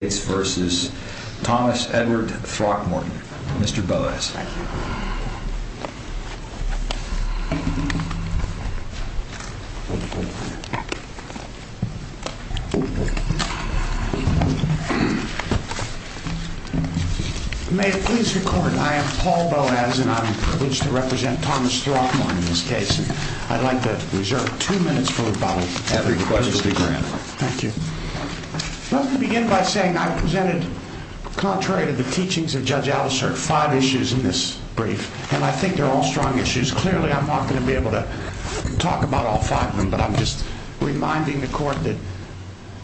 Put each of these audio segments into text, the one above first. May it please the court, I am Paul Boas, and I am privileged to represent Thomas Throckmorton in this case. I'd like to reserve two minutes for rebuttal, and every question will be granted. Thank you. Let me begin by saying I presented, contrary to the teachings of Judge Alicert, five issues in this brief, and I think they're all strong issues. Clearly, I'm not going to be able to talk about all five of them, but I'm just reminding the court that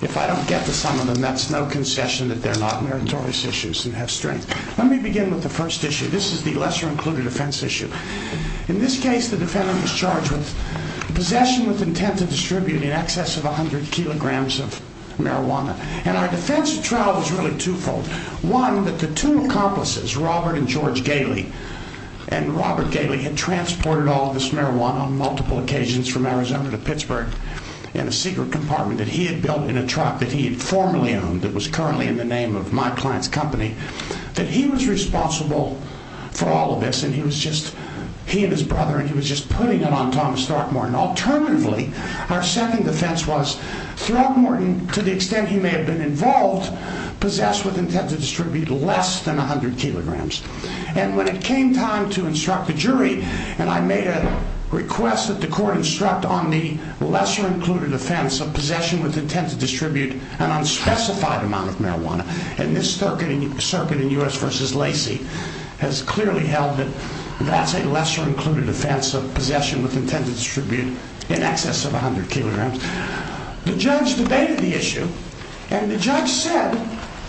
if I don't get to some of them, that's no concession that they're not meritorious issues and have strength. Let me begin with the first issue. This is the lesser-included offense issue. In this case, the defendant was charged with possession with intent to distribute in excess of 100 kilograms of marijuana, and our defense of trial was really twofold. One, that the two accomplices, Robert and George Gailey, and Robert Gailey had transported all this marijuana on multiple occasions from Arizona to Pittsburgh in a secret compartment that he had built in a truck that he had formerly owned that was currently in the name of my client's company, that he was responsible for all of this, and he was just, he and his brother, and he was just putting it on Thomas Throckmorton. Alternatively, our second defense was Throckmorton, to the extent he may have been involved, possessed with intent to distribute less than 100 kilograms, and when it came time to instruct the jury, and I made a request that the court instruct on the lesser-included offense of possession with intent to distribute an unspecified amount of marijuana, and this circuit in U.S. v. Lacey has clearly held that that's a lesser-included offense of possession with intent to distribute in excess of 100 kilograms. The judge debated the issue, and the judge said,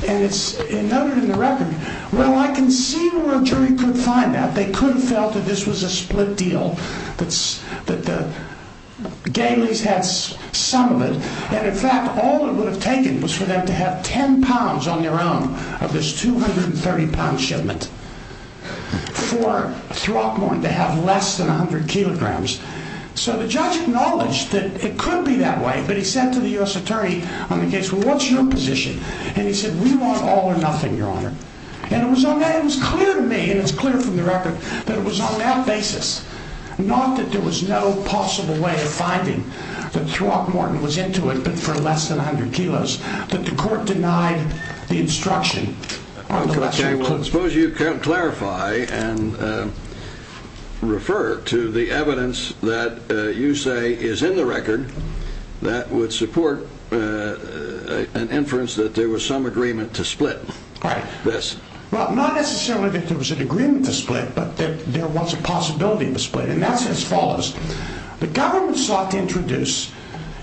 and it's noted in the record, well, I can see where a jury could find that. They could have felt that this was a split deal, that the Gaileys had some of it, and in fact, all it would have taken was for them to have 10 pounds on their own of this 230-pound shipment for Throckmorton to have less than 100 kilograms. It could be that way, but he said to the U.S. attorney on the case, well, what's your position? And he said, we want all or nothing, Your Honor. And it was on that, it was clear to me, and it's clear from the record, that it was on that basis, not that there was no possible way of finding that Throckmorton was into it, but for less than 100 kilos, that the court denied the instruction on the lesser-included. Well, I suppose you can clarify and refer to the evidence that you say is in the record that would support an inference that there was some agreement to split this. Right. Well, not necessarily that there was an agreement to split, but that there was a possibility of a split, and that's as follows. The government sought to introduce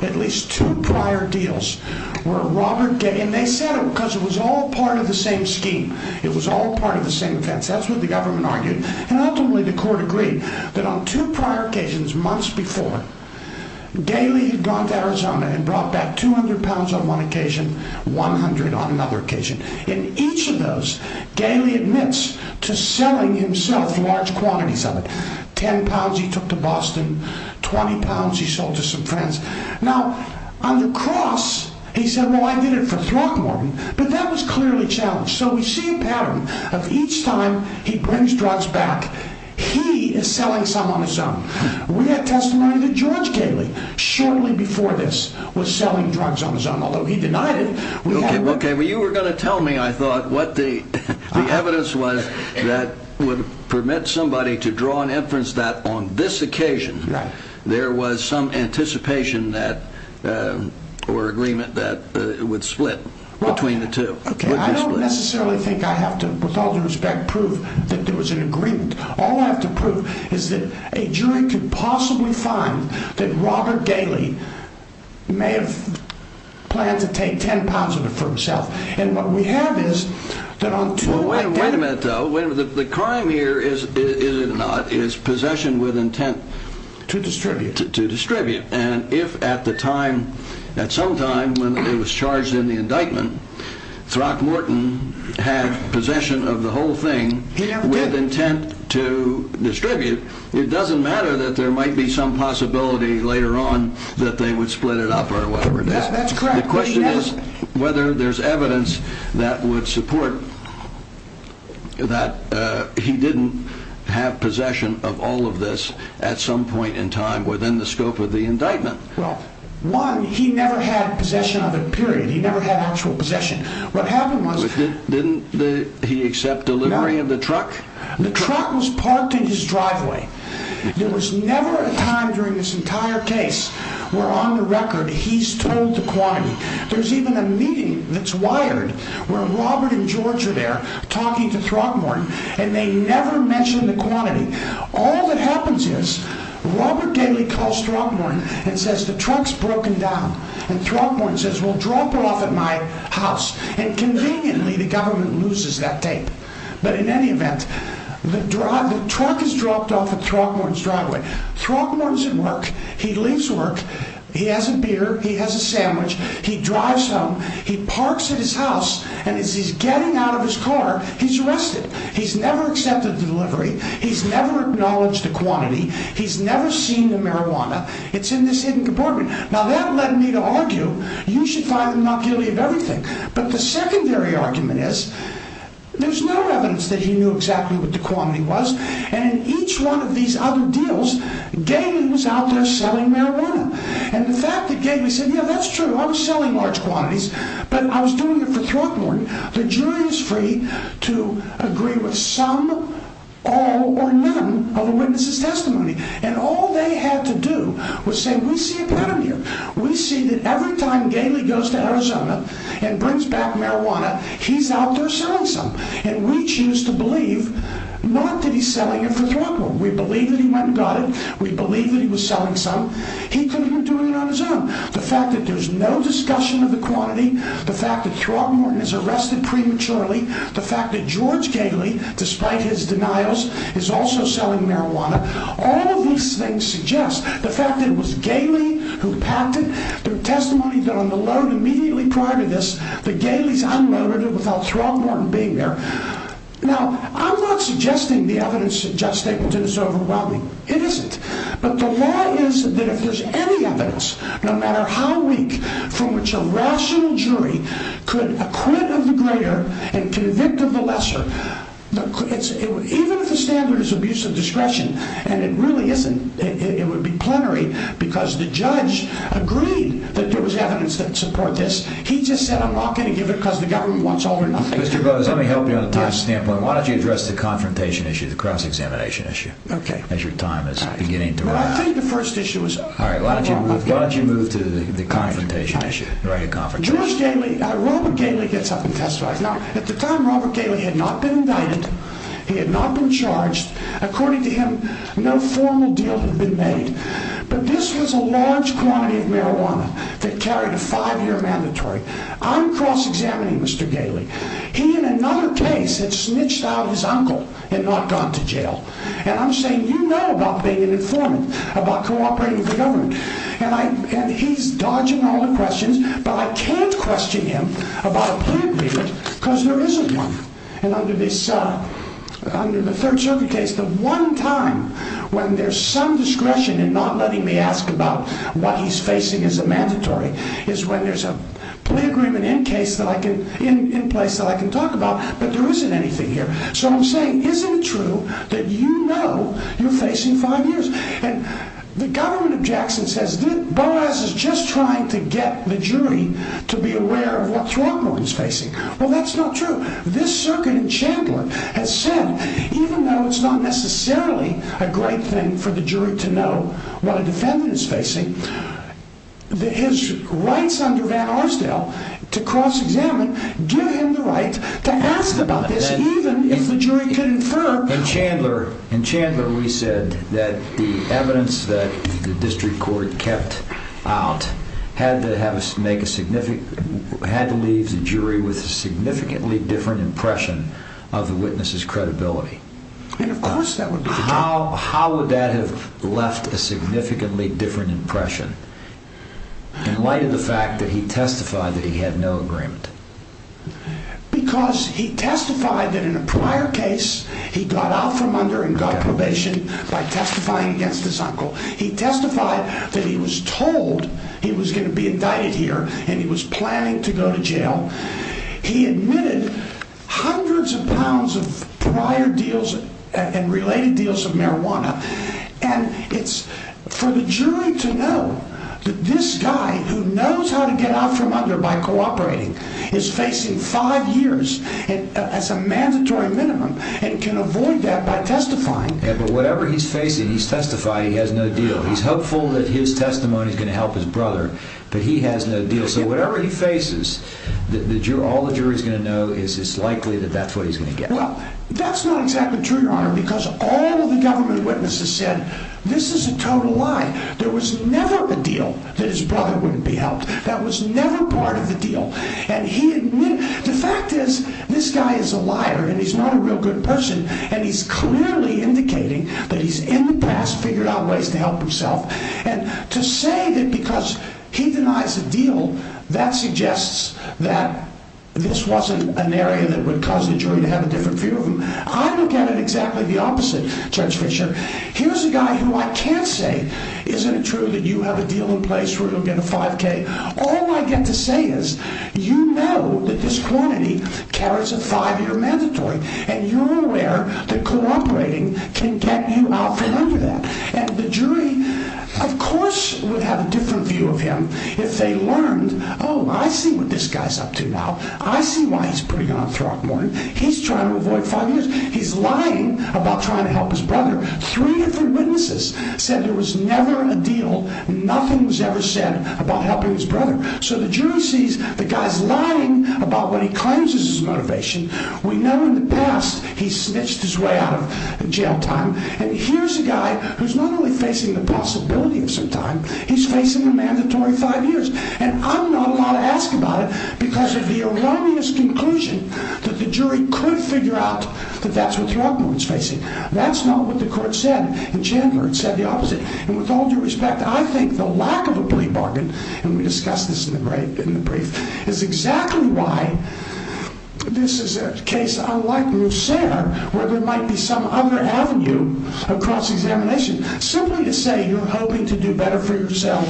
at least two prior deals where Robert Getty, and they said it because it was all part of the same offense. That's what the government argued, and ultimately the court agreed that on two prior occasions, months before, Galey had gone to Arizona and brought back 200 pounds on one occasion, 100 on another occasion. In each of those, Galey admits to selling himself large quantities of it. 10 pounds he took to Boston, 20 pounds he sold to some friends. Now, on the cross, he said, well, I did it for Throckmorton, but that was clearly a challenge. So we see a pattern of each time he brings drugs back, he is selling some on his own. We have testimony that George Galey, shortly before this, was selling drugs on his own, although he denied it. Okay, well, you were going to tell me, I thought, what the evidence was that would permit somebody to draw an inference that on this occasion, there was some anticipation or agreement that it would split between the two. Okay, I don't necessarily think I have to, with all due respect, prove that there was an agreement. All I have to prove is that a jury could possibly find that Robert Galey may have planned to take 10 pounds of it for himself, and what we have is that on two Wait a minute, though. The crime here is, is it not, is possession with intent to distribute. To distribute, and if at the time, at some time, when it was charged in the indictment, Throckmorton had possession of the whole thing with intent to distribute, it doesn't matter that there might be some possibility later on that they would split it up or whatever. That's correct. The question is whether there's evidence that would support that he didn't have possession of all of this at some point in time within the scope of indictment. Well, one, he never had possession of it, period. He never had actual possession. What happened was, didn't he accept delivery of the truck? The truck was parked in his driveway. There was never a time during this entire case where on the record he's told the quantity. There's even a meeting that's wired where Robert and George are there talking to Throckmorton, and they never mention the quantity. All that happens is Robert Daley calls Throckmorton and says, the truck's broken down. And Throckmorton says, well, drop her off at my house. And conveniently, the government loses that tape. But in any event, the truck is dropped off at Throckmorton's driveway. Throckmorton's in work. He leaves work. He has a beer. He has a sandwich. He drives home. He parks at his house. And as he's getting out of his car, he's arrested. He's never accepted delivery. He's never acknowledged the quantity. He's never seen the marijuana. It's in this hidden compartment. Now that led me to argue, you should find the monocular of everything. But the secondary argument is, there's no evidence that he knew exactly what the quantity was. And in each one of these other deals, Daley was out there selling marijuana. And the fact that Daley said, yeah, that's true. I was selling large quantities, but I was doing it for Throckmorton. The jury is free to agree with some or none of the witness's testimony. And all they had to do was say, we see a pedometer. We see that every time Daley goes to Arizona and brings back marijuana, he's out there selling some. And we choose to believe not that he's selling it for Throckmorton. We believe that he went and got it. We believe that he was selling some. He couldn't do it on his own. The fact that there's no discussion of the quantity, the fact that Throckmorton is arrested prematurely, the fact that George Daley, despite his denials, is also selling marijuana. All of these things suggest the fact that it was Daley who packed it. There were testimonies that on the load immediately prior to this, that Daley's unloaded it without Throckmorton being there. Now, I'm not suggesting the evidence suggests Ableton is overwhelming. It isn't. But the law is that if there's any evidence, no matter how weak, from which a rational jury could acquit of the greater and convict of the lesser, even if the standard is abuse of discretion, and it really isn't, it would be plenary because the judge agreed that there was evidence that support this. He just said, I'm not going to give it because the government wants all or nothing. Mr. Bowes, let me help you on the time standpoint. Why don't you address the confrontation issue, the cross-examination issue? Okay. As your time is beginning to run. I think the first issue is... All right, why don't you move to the confrontation issue? Robert Daley gets up and testifies. Now, at the time, Robert Daley had not been indicted. He had not been charged. According to him, no formal deal had been made. But this was a large quantity of marijuana that carried a five-year mandatory. I'm cross-examining Mr. Daley. He, in another case, had snitched out his uncle and not gone to jail. And I'm saying, you know about being an informant, about cooperating with the government. And he's dodging all the questions, but I can't question him about a plea agreement because there isn't one. And under the Third Circuit case, the one time when there's some discretion in not letting me ask about what he's doing. So I'm saying, isn't it true that you know you're facing five years? And the government of Jackson says, Boaz is just trying to get the jury to be aware of what Throckmorton's facing. Well, that's not true. This circuit in Chandler has said, even though it's not necessarily a great thing for the jury to know what a defendant is facing, that his rights under Van Arsdale to cross-examine give him the right to ask about this, even if the jury can infer. In Chandler, we said that the evidence that the district court kept out had to leave the jury with a significantly different impression of the witness's credibility. And of course that would be the case. How would that have left a significantly different impression in light of the fact that he testified that he had no agreement? Because he testified that in a prior case, he got out from under and got probation by testifying against his uncle. He testified that he was told he was going to be indicted here and he was planning to go to jail. He admitted hundreds of pounds of prior deals and related deals of this guy who knows how to get out from under by cooperating, is facing five years as a mandatory minimum and can avoid that by testifying. Yeah, but whatever he's facing, he's testified he has no deal. He's hopeful that his testimony is going to help his brother, but he has no deal. So whatever he faces, all the jury's going to know is it's likely that that's what he's going to get. Well, that's not exactly true, Your Honor, because all of the government witnesses said, this is a total lie. There was never a deal that his brother wouldn't be helped. That was never part of the deal. And he admitted, the fact is this guy is a liar and he's not a real good person and he's clearly indicating that he's in the past, figured out ways to help himself. And to say that because he denies the deal, that suggests that this wasn't an area that would cause the jury to have a different view of him. I look at it exactly the opposite, Judge Fischer. Here's a guy who I can't say, isn't it true that you have a deal in place where he'll get a 5k? All I get to say is, you know that this quantity carries a five-year mandatory, and you're aware that cooperating can get you out from under that. And the jury, of course, would have a different view of him if they learned, oh, I see what this guy's up to now. I see why he's pretty good on Throckmorton. He's trying to avoid five years. He's lying about trying to help his brother. Three different witnesses said there was never a deal. Nothing was ever said about helping his brother. So the jury sees the guy's lying about what he claims is his motivation. We know in the past he snitched his way out of jail time. And here's a guy who's not only facing the possibility of some time, he's facing a mandatory five years. And I'm not allowed to ask about it because of the erroneous conclusion that the jury could figure out that that's what Throckmorton's facing. That's not what the court said in January. It said the opposite. And with all due respect, I think the lack of a plea bargain, and we discussed this in the brief, is exactly why this is a case unlike Mousser where there might be some other avenue across examination. Simply to say you're hoping to do better for yourself,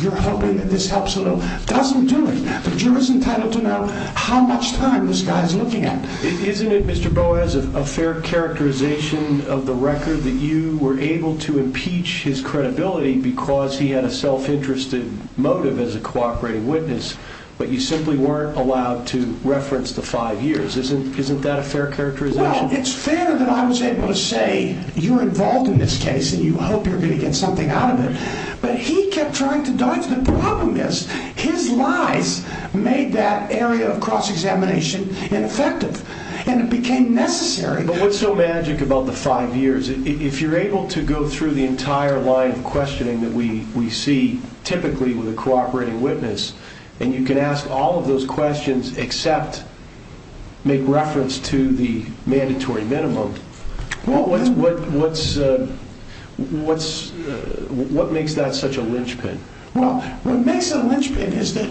you're hoping that this helps a little, doesn't do it. The jury's entitled to know how much time this guy's looking at. Isn't it, Mr. Boaz, a fair characterization of the record that you were able to impeach his credibility because he had a self-interested motive as a cooperating witness, but you simply weren't allowed to reference the five years. Isn't that a fair characterization? Well, it's fair that I was able to say, you're involved in this case and you hope you're going to get something out of it. But he kept trying to dodge. The problem is his lies made that area of cross-examination ineffective and it became necessary. But what's so magic about the five years? If you're able to go through the entire line of questioning that we see typically with a cooperating witness, and you can ask all of those questions except make reference to the mandatory minimum, what makes that such a linchpin? Well, what makes it a linchpin is that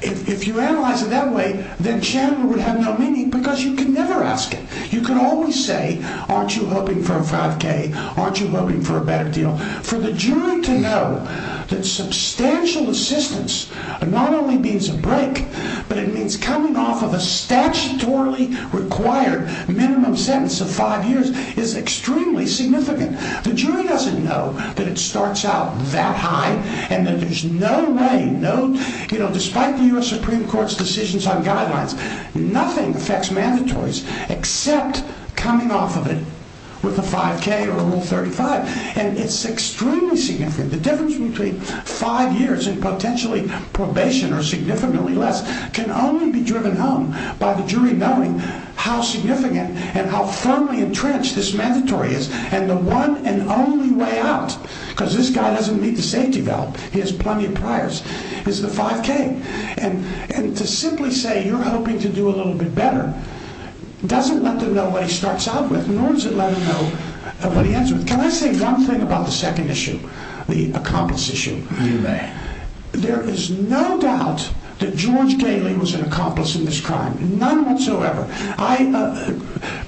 if you analyze it that way, then Shannon would have no meaning because you can never ask it. You can always say, aren't you hoping for a 5k? Aren't you hoping for a better deal? For the jury to know that substantial assistance not only means a break, but it means coming off of a statutorily required minimum sentence of five years is extremely significant. The jury doesn't know that it starts out that high and that there's no way, you know, despite the U.S. Supreme Court's decisions on guidelines, nothing affects mandatories except coming off of it with a 5k or Rule 35. And it's extremely significant. The difference between five years and potentially probation or significantly less can only be driven home by the jury knowing how significant and how firmly entrenched this mandatory is. And the one and only way out, because this guy doesn't need the safety belt, he has plenty of priors, is the 5k. And to simply say you're hoping to do a little bit better doesn't let them know what he starts out with, nor does it let them know what he ends with. Can I say one thing about the second issue, the accomplice issue, if you may? There is no doubt that George Galey was an accomplice in this crime, none whatsoever. I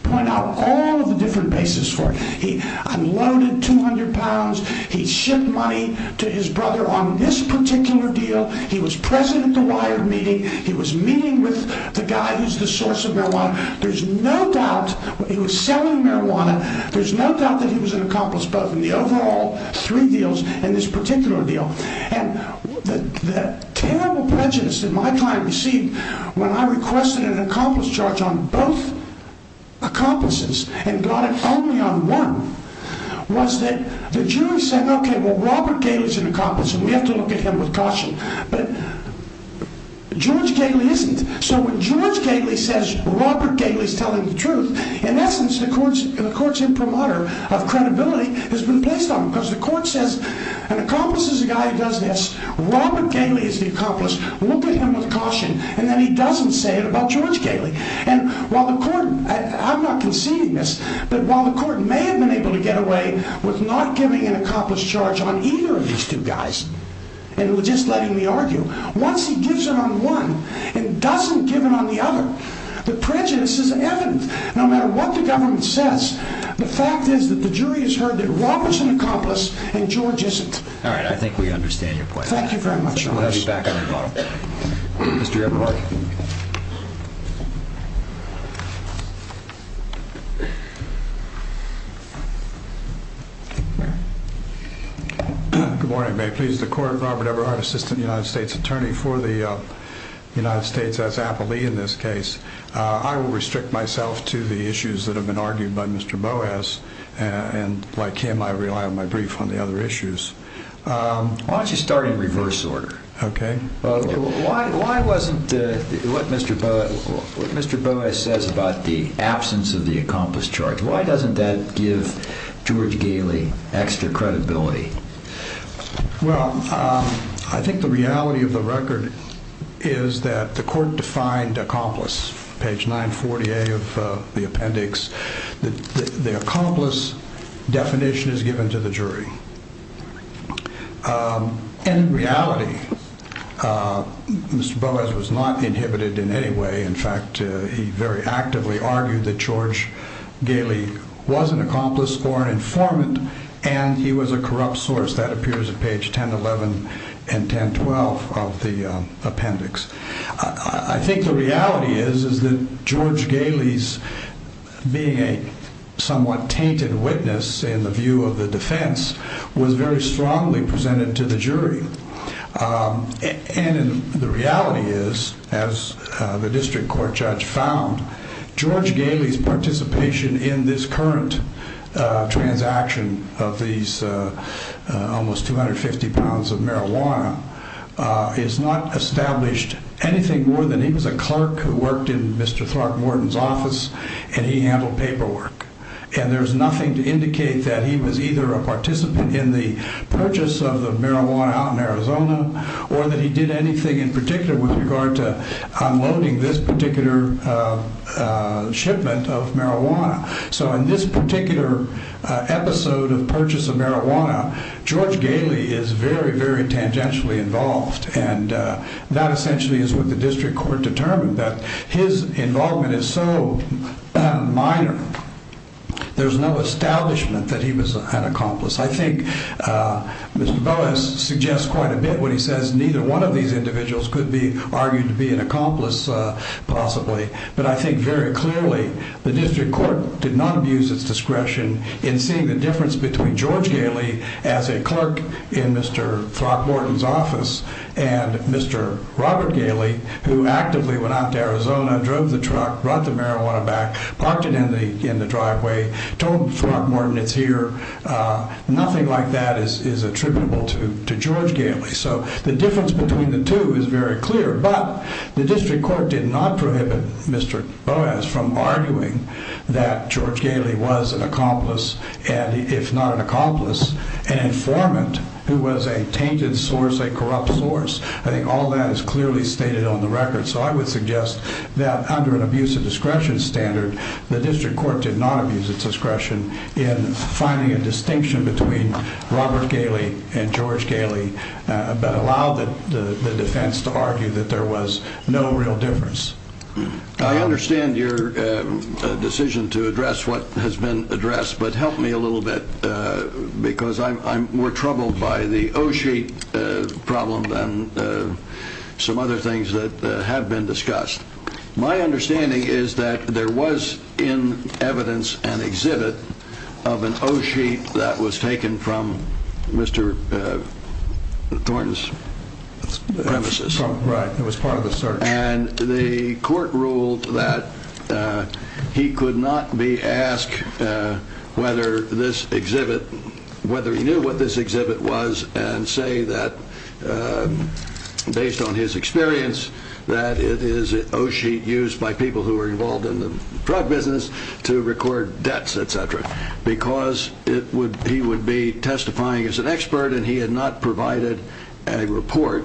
point out all the different bases for it. He unloaded 200 pounds. He shipped money to his brother on this particular deal. He was present at the WIRED meeting. He was meeting with the guy who's the source of marijuana. There's no doubt he was selling marijuana. There's no doubt that he was an accomplice, both in the overall three deals and this particular deal. And the terrible prejudice that my client received when I requested an accomplice charge on both accomplices and got it only on one was that the jury said, okay, well, Robert Galey's an accomplice and we have to look at him with caution. But George Galey isn't. So when George Galey says Robert Galey's telling the truth, in essence, the court's imprimatur of credibility has been placed on him because the court says an accomplice is a guy who does this, Robert Galey is the accomplice, look at him with caution, and then he doesn't say it about George Galey. And while the court, I'm not conceding this, but while the court may have been able to get away with not giving an accomplice charge on either of these two guys and just letting me argue, once he gives it on one and doesn't give it on the other, the prejudice is evident. No matter what the government says, the fact is that the jury has heard that Robert's an accomplice and George isn't. All right, I think we understand your point. Thank you very much. I'll be back on the bottom. Mr. Eberhardt. Good morning. May it please the court, Robert Eberhardt, Assistant United States Attorney for the I will restrict myself to the issues that have been argued by Mr. Boas and like him, I rely on my brief on the other issues. Why don't you start in reverse order? Okay. Why wasn't, what Mr. Boas says about the absence of the accomplice charge, why doesn't that give George Galey extra credibility? Well, I think the reality of the page 940A of the appendix, the accomplice definition is given to the jury. And in reality, Mr. Boas was not inhibited in any way. In fact, he very actively argued that George Galey was an accomplice or an informant and he was a corrupt source. That appears at page 1011 and 1012 of the appendix. I think the reality is, is that George Galey's being a somewhat tainted witness in the view of the defense was very strongly presented to the jury. And the reality is, as the district court judge found, George Galey's participation in this current transaction of these almost 250 pounds of marijuana is not established anything more than he was a clerk who worked in Mr. Throckmorton's office and he handled paperwork. And there's nothing to indicate that he was either a participant in the purchase of the marijuana out in Arizona or that he did anything in particular with regard to unloading this particular shipment of marijuana. So in this particular episode of purchase of marijuana, George Galey is very, very tangentially involved. And that essentially is what the district court determined that his involvement is so minor. There's no establishment that he was an accomplice. I think Mr. Boas suggests quite a bit when he says neither one of these individuals could be an accomplice possibly. But I think very clearly the district court did not abuse its discretion in seeing the difference between George Galey as a clerk in Mr. Throckmorton's office and Mr. Robert Galey, who actively went out to Arizona, drove the truck, brought the marijuana back, parked it in the driveway, told Throckmorton it's here. Nothing like that is attributable to The district court did not prohibit Mr. Boas from arguing that George Galey was an accomplice and if not an accomplice, an informant who was a tainted source, a corrupt source. I think all that is clearly stated on the record. So I would suggest that under an abuse of discretion standard, the district court did not abuse its discretion in finding a distinction between Robert Galey and George Galey, but allowed the defense to argue that there was no real difference. I understand your decision to address what has been addressed, but help me a little bit because I'm more troubled by the O-sheet problem than some other things that have been discussed. My understanding is that there was in evidence an exhibit of an O-sheet that was taken from Mr. Thornton's premises. Right, it was part of the search. And the court ruled that he could not be asked whether this exhibit, whether he knew what this exhibit was and say that based on his experience that it is an O-sheet used by people who are involved in the drug business to record debts, et cetera, because he would be testifying as an expert and he had not provided a report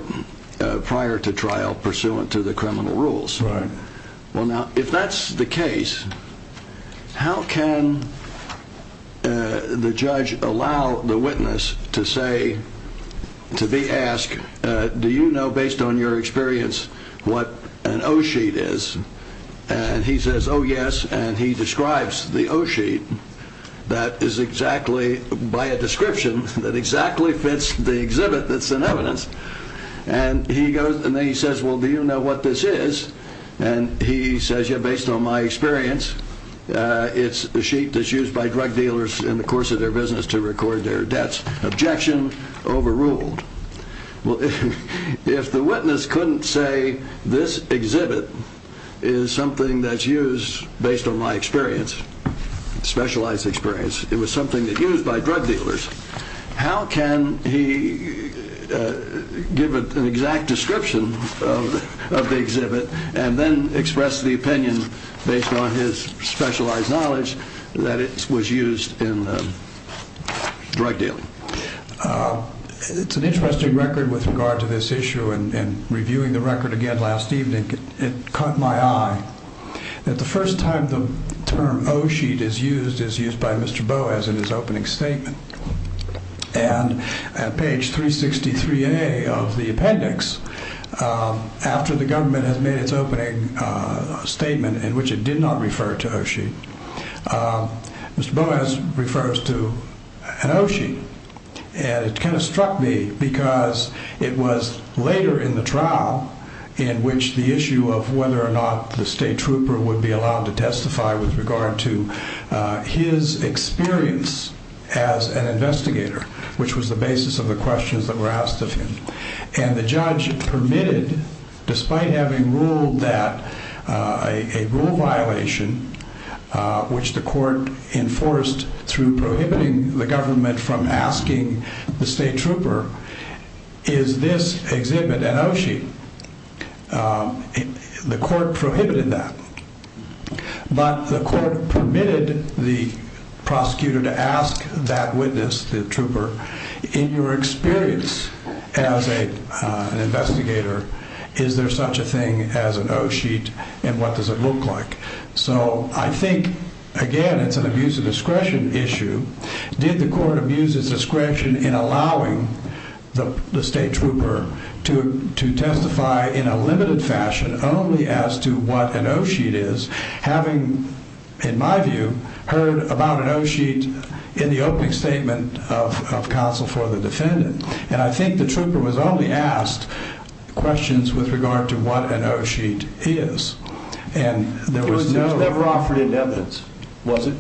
prior to trial pursuant to the criminal rules. Well, now, if that's the case, how can the judge allow the witness to say, to be asked, do you know based on your experience what an O-sheet is? And he says, oh, yes. And he describes the O-sheet that is exactly by a description that exactly fits the exhibit that's in evidence. And he goes and then he says, well, do you know what this is? And he says, yeah, based on my experience, it's a sheet that's used by drug dealers in the course of their business to record their debts. Objection overruled. Well, if the witness couldn't say this exhibit is something that's used based on my experience, specialized experience, it was something that used by drug dealers, how can he give an exact description of the exhibit and then express the opinion based on his specialized knowledge that it was used in the drug dealing? It's an interesting record with regard to this issue and reviewing the record again last evening, it caught my eye that the first time the term O-sheet is used is used by Mr. Boas in his opening statement. And at page 363A of the appendix, after the government has made its statement in which it did not refer to O-sheet, Mr. Boas refers to an O-sheet. And it kind of struck me because it was later in the trial in which the issue of whether or not the state trooper would be allowed to testify with regard to his experience as an investigator, which was the basis of the questions that were asked of him. And the judge permitted, despite having ruled that a rule violation, which the court enforced through prohibiting the government from asking the state trooper, is this exhibit an O-sheet. The court prohibited that, but the court permitted the prosecutor to ask that witness, the trooper, in your experience as an investigator, is there such a thing as an O-sheet and what does it look like? So I think, again, it's an abuse of discretion issue. Did the court abuse its discretion in allowing the state trooper to testify in a limited fashion only as to what an O-sheet is, having, in my view, heard about an O-sheet in the opening statement of counsel for the defendant. And I think the trooper was only asked questions with regard to what an O-sheet is. And there was no... It was never offered in evidence, was it?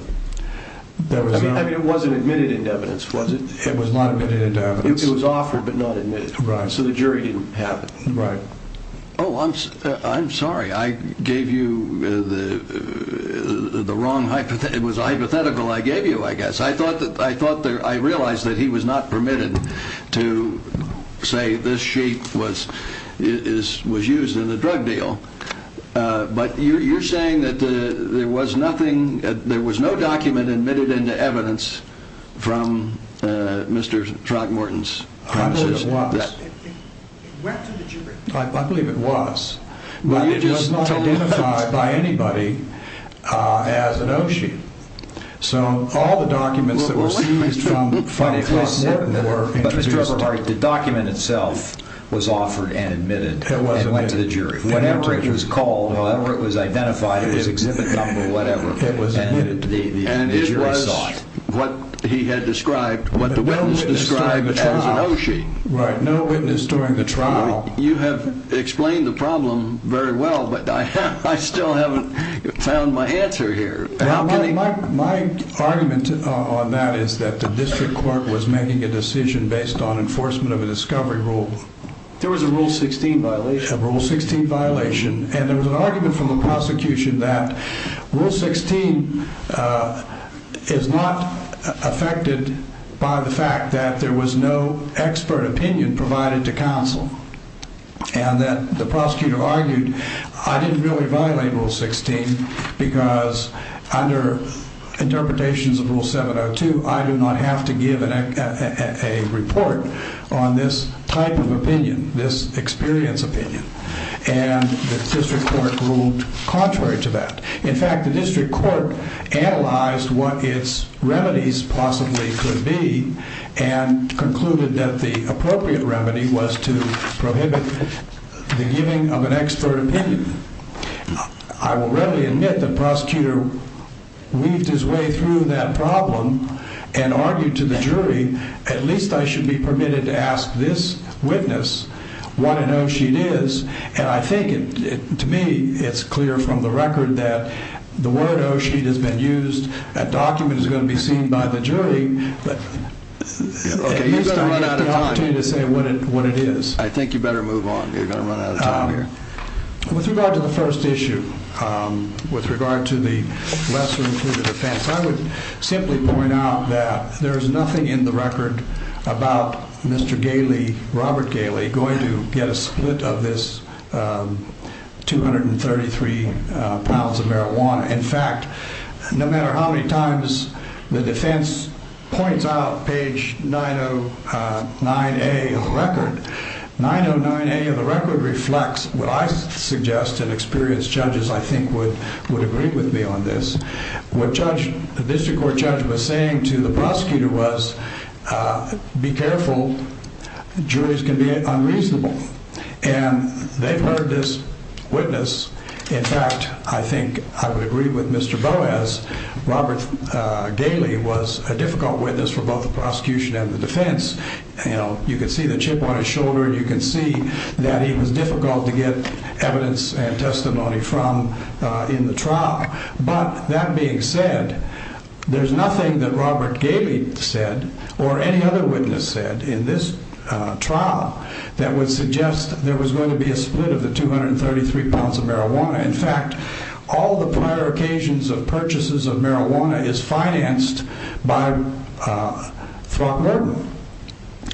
There was no... I mean, it wasn't admitted in evidence, was it? It was not admitted in evidence. It was offered but not admitted. Right. So the jury didn't have it. Right. Oh, I'm sorry. I gave you the wrong hypothesis. It was a hypothetical I gave you, I guess. I thought that I thought that I realized that he was not permitted to say this sheet was used in the drug deal. But you're saying that there was nothing, there was no document admitted into evidence from Mr. Trogmorton's... I believe it was. I believe it was. But it was not identified by anybody as an O-sheet. So all the documents that were seized from... But Mr. Eberhardt, the document itself was offered and admitted and went to the jury. Whatever it was called, whatever it was identified, it was exhibit number, whatever. And it was what he had described, what the witness described as an O-sheet. Right. No witness during the trial. You have explained the problem very well, but I still haven't found my answer here. My argument on that is that the district court was making a decision based on enforcement of a discovery rule. There was a Rule 16 violation. A Rule 16 violation. And there was an argument from the prosecution that Rule 16 is not affected by the fact that there was no expert opinion provided to counsel. And that the prosecutor argued, I didn't really violate Rule 16 because under interpretations of Rule 702, I do not have to give a report on this type of opinion, this experience opinion. And the district court ruled contrary to that. In fact, the district court analyzed what its remedies possibly could be and concluded that the I will readily admit the prosecutor weaved his way through that problem and argued to the jury, at least I should be permitted to ask this witness what an O-sheet is. And I think it, to me, it's clear from the record that the word O-sheet has been used, that document is going to be seen by the jury, but at least I get the opportunity to say what it is. I think you better move on. You're going to run out of time here. With regard to the first issue, with regard to the lesser included offense, I would simply point out that there is nothing in the record about Mr. Gailey, Robert Gailey, going to get a split of this 233 pounds of marijuana. In fact, no matter how many times the defense points out page 909A of the record, 909A of the record reflects what I suggest and experienced judges I think would agree with me on this. What the district court judge was saying to the prosecutor was, be careful. Juries can be unreasonable. And they've heard this witness. In fact, I think I would agree with Mr. Boas. Robert Gailey was a difficult witness for both the prosecution and the defense. You could see the chip on his shoulder and you can see that he was difficult to get evidence and testimony from in the trial. But that being said, there's nothing that Robert Gailey said or any other witness said in this trial that would suggest there was going to be a split of the 233 pounds of marijuana. In fact, all the prior occasions of purchases of marijuana is financed by Throckmorton.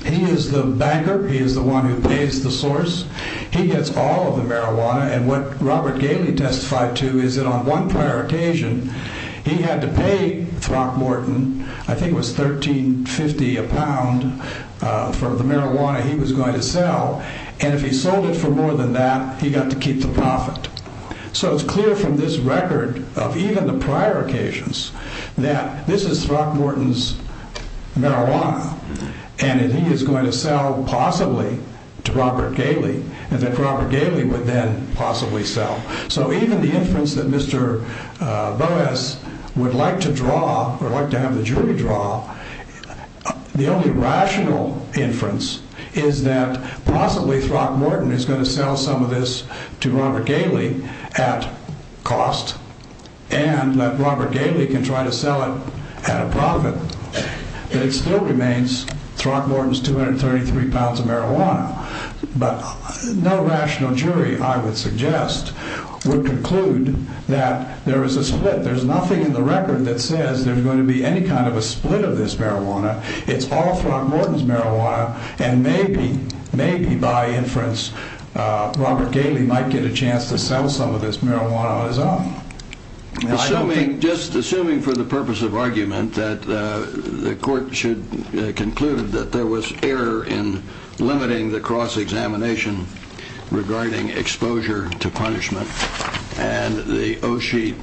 He is the banker. He is the one who pays the source. He gets all of the marijuana. And what Robert Gailey testified to is that on one prior occasion, he had to pay Throckmorton, I think it was 13.50 a pound, for the marijuana he was going to sell. And if he sold it for more than that, he got to keep the profit. So it's clear from this record of even the prior occasions that this is Throckmorton's marijuana and he is going to sell possibly to Robert Gailey and that Robert Gailey would then possibly sell. So even the inference that Mr. Boas would like to draw, or like to have the jury draw, the only rational inference is that possibly Throckmorton is going to sell some of this to Robert Gailey at cost and that Robert Gailey can try to sell it at a profit. But it still remains Throckmorton's 233 pounds of marijuana. But no rational jury, I would suggest, would conclude that there is a split. There's nothing in the record that says there's going to be any kind of a split of this marijuana. It's all Throckmorton's marijuana and maybe, maybe by inference, Robert Gailey might get a chance to sell some of this marijuana on his own. Assuming, just assuming for the purpose of argument, that the court should conclude that there was error in limiting the cross-examination regarding exposure to punishment and the O'Sheet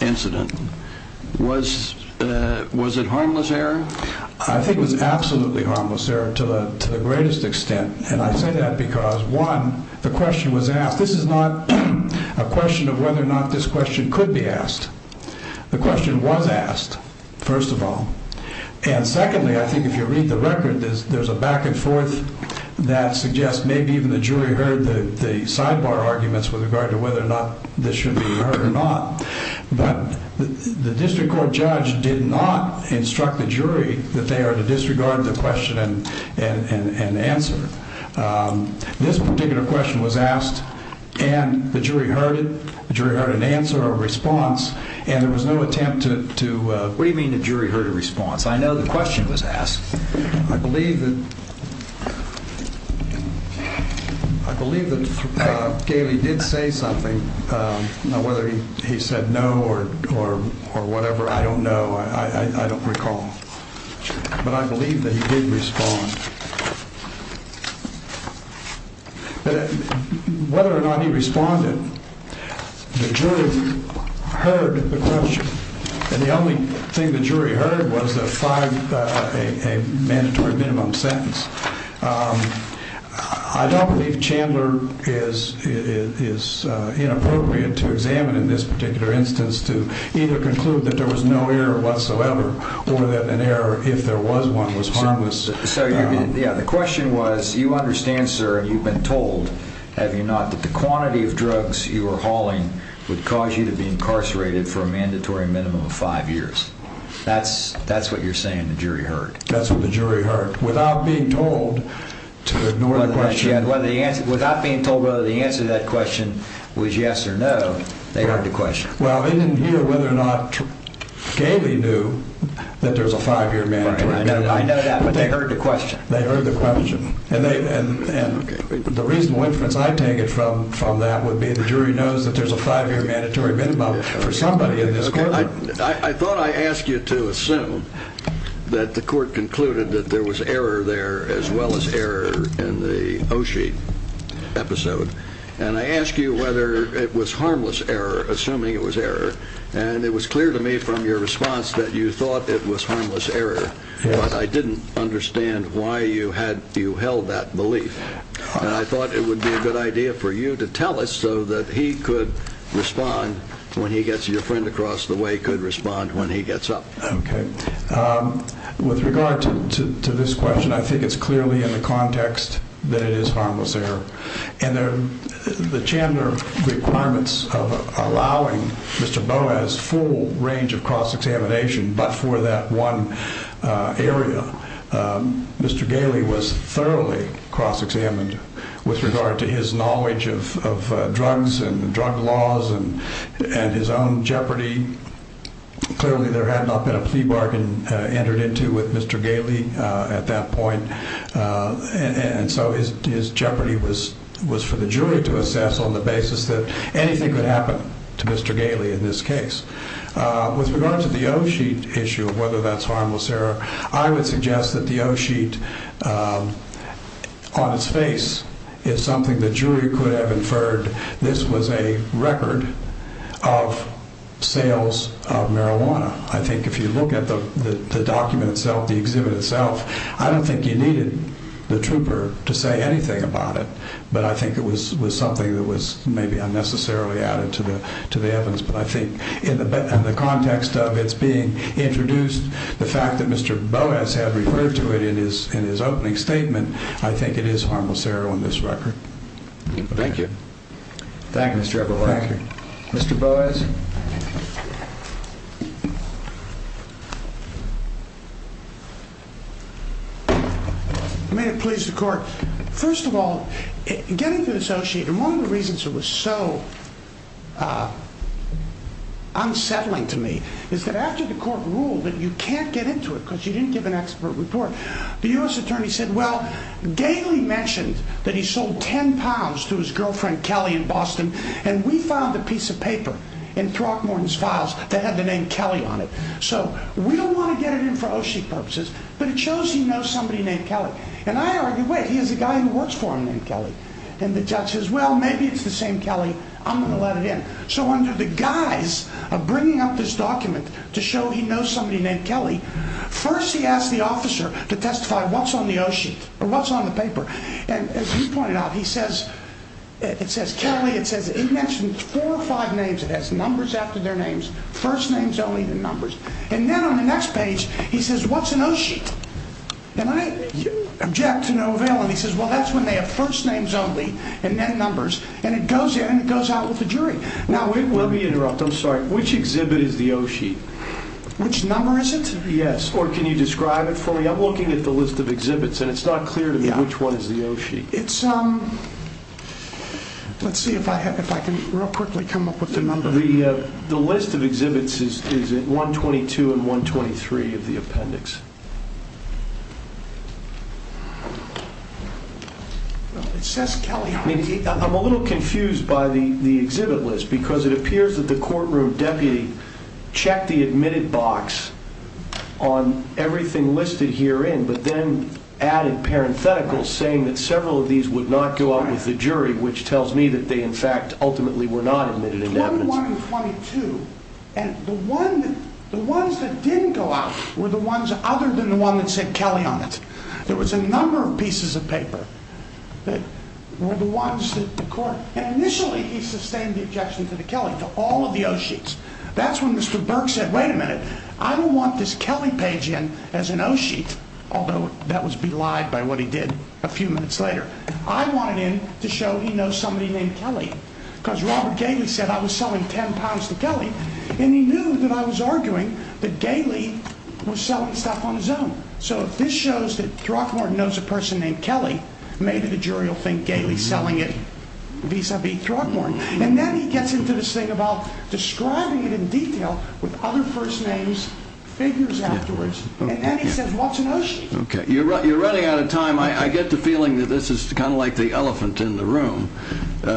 incident. Was it harmless error? I think it was absolutely harmless error to the greatest extent. And I say that because one, the question was asked. This is not a question of whether or not this question could be asked. The question was asked, first of all. And secondly, I think if you read the record, there's a back and forth that suggests maybe even the jury heard the question in regard to whether or not this should be heard or not. But the district court judge did not instruct the jury that they are to disregard the question and answer. This particular question was asked and the jury heard it. The jury heard an answer, a response, and there was no attempt to... What do you mean the jury heard a response? I know the question was asked. I believe that Gailey did say something. Now, whether he said no or whatever, I don't know. I don't recall. But I believe that he did respond. But whether or not he responded, the jury heard the question. And the only thing the jury heard was a mandatory minimum sentence. I don't believe Chandler is inappropriate to examine in this particular instance to either conclude that there was no error whatsoever or that an error, if there was one, was harmless. So the question was, you understand, sir, you've been told, have you not, that the quantity of drugs you were hauling would cause you to be incarcerated for a mandatory minimum of five years. That's what you're saying the jury heard? That's what the jury heard. Without being told to ignore the question... Without being told whether the answer to that question was yes or no, they heard the question. Well, they didn't hear whether or not Gailey knew that there was a five-year mandatory minimum. I know that, but they heard the question. They heard the question. And the reasonable inference I take it from that would be the jury knows that there's a five-year mandatory minimum for somebody in this courtroom. I thought I asked you to assume that the court concluded that there was error there as well as error in the O'Shee episode. And I asked you whether it was harmless error, assuming it was error. And it was clear to me from your response that you thought it was harmless error. But I didn't understand why you held that belief. And I thought it would be a good idea for you to tell us so that he could respond when he gets your friend across the way could respond when he gets up. Okay. With regard to this question, I think it's clearly in the context that it is harmless error. And the Chandler requirements of allowing Mr. Boas full range of cross-examination, but for that one area, Mr. Gailey was thoroughly cross-examined with regard to his knowledge of drugs and drug laws and his own jeopardy. Clearly there had not been a plea bargain entered into with Mr. Gailey at that point. And so his jeopardy was for the jury to assess on the basis that anything could happen to Mr. Gailey in this case. With regard to the O'Shee issue of whether that's harmless error, I would suggest that the O'Sheet on its face is something that jury could have inferred. This was a record of sales of marijuana. I think if you look at the document itself, the exhibit itself, I don't think you needed the trooper to say anything about it, but I think it was something that was maybe unnecessarily added to the, to the evidence. But I think in the, in the context of it's being introduced, the fact that Mr. Boas had referred to it in his, in his opening statement, I think it is harmless error on this record. Thank you. Thank you, Mr. Boas. May it please the court. First of all, getting to associate and one of the reasons it was so unsettling to me is that after the court ruled that you can't get into it because you didn't give an expert report, the U.S. attorney said, well, Gailey mentioned that he sold 10 pounds to his girlfriend, Kelly in Boston. And we found a piece of paper in Throckmorton's files that had the name Kelly on it. So we don't want to get it in for O'Shee purposes, but it shows he knows somebody named Kelly. And I argue, wait, he has a guy who works for him named Kelly. And the judge says, well, maybe it's the same Kelly. I'm going to let it in. So under the guise of bringing up this document to show he knows somebody named Kelly, first, he asked the officer to testify what's on the O'Sheet or what's on the paper. And as you pointed out, he says, it says Kelly, it says it mentioned four or five names. It has numbers after their names, first names, only the numbers. And then on the next page, he says, what's an O'Sheet. And I object to no he says, well, that's when they have first names only and then numbers and it goes in and it goes out with the jury. Now, let me interrupt. I'm sorry. Which exhibit is the O'Sheet? Which number is it? Yes. Or can you describe it for me? I'm looking at the list of exhibits and it's not clear to me which one is the O'Sheet. It's let's see if I can real quickly come up with the number. The list of exhibits is at 122 and 123 of the appendix. Well, it says Kelly. I'm a little confused by the exhibit list because it appears that the courtroom deputy checked the admitted box on everything listed herein, but then added parentheticals saying that several of these would not go out with the jury, which tells me that they, in fact, ultimately were not admitted. And the one, the ones that didn't go out were the ones other than the one that said Kelly on it. There was a number of pieces of paper that were the ones that the court, and initially he sustained the objection to the Kelly, to all of the O'Sheets. That's when Mr. Burke said, wait a minute, I don't want this Kelly page in as an O'Sheet, although that was belied by what he did a few minutes later. I want it in to show he knows somebody named Kelly because Robert Gailey said I was selling 10 pounds to Kelly and he knew that I was arguing that Gailey was selling stuff on his own. So if this shows that Throckmorton knows a person named Kelly, maybe the jury will think Gailey's selling it vis-a-vis Throckmorton. And then he gets into this thing about describing it in detail with other first names, figures afterwards, and then he says, what's an O'Sheet? Okay. You're running out of time. I get the feeling that this is kind of like the elephant in the room.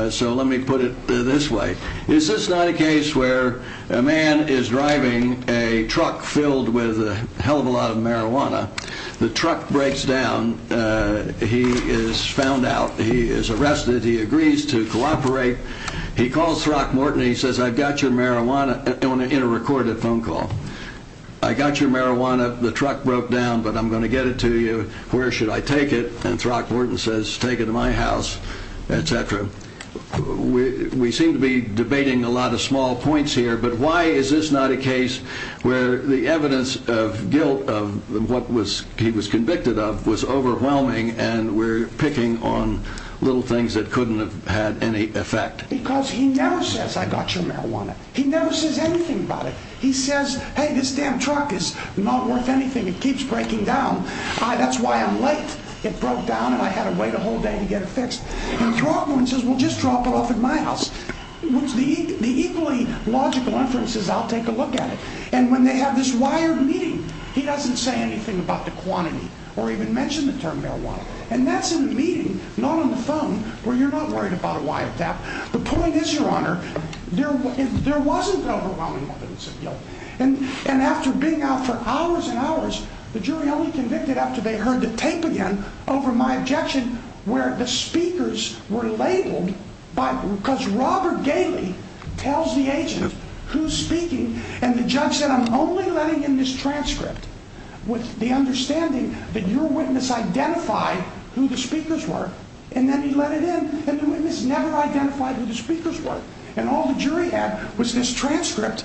So let me put it this way. Is this not a case where a man is driving a truck filled with a hell of a lot of marijuana. The truck breaks down. He is found out. He is arrested. He agrees to cooperate. He calls Throckmorton. He says, I've got your marijuana in a recorded phone call. I got your marijuana. The truck broke down, but I'm going to get it to you. Where should I take it? And Throckmorton says, take it to my house, etc. We seem to be debating a lot of small points here, but why is this not a case where the evidence of guilt of what he was convicted of was overwhelming and we're picking on little things that couldn't have had any effect? Because he never says, I got your marijuana. He never says anything about it. He says, hey, this damn truck is not worth anything. It keeps breaking down. That's why I'm late. It broke down and I had to wait a whole day to get it fixed. And Throckmorton says, just drop it off at my house. The equally logical inference is I'll take a look at it. And when they have this wired meeting, he doesn't say anything about the quantity or even mention the term marijuana. And that's in a meeting, not on the phone, where you're not worried about a wiretap. The point is, Your Honor, there wasn't overwhelming evidence of guilt. And after being out for hours and hours, the jury only convicted after they heard the tape again over my objection, where the speakers were labeled because Robert Gailey tells the agent who's speaking. And the judge said, I'm only letting in this transcript with the understanding that your witness identified who the speakers were. And then he let it in. And the witness never identified who the speakers were. And all the jury had was this transcript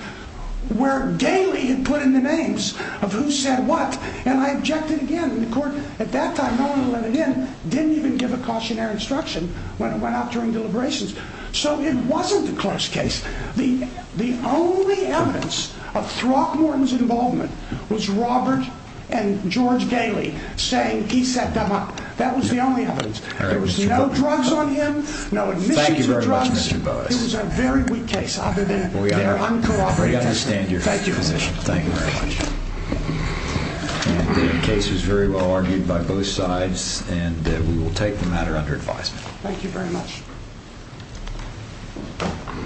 where Gailey had put in the names of who said what. And I objected again. And the court at that time, no one let it in, didn't even give a cautionary instruction when it went out during deliberations. So it wasn't a close case. The only evidence of Throckmorton's involvement was Robert and George Gailey saying he set them up. That was the only evidence. There was no drugs on him, no admissions of drugs. This is a very weak case other than their uncooperative testimony. I understand your position. Thank you very much. And the case is very well argued by both sides, and we will take the matter under advisement. Thank you very much. Thank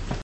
you.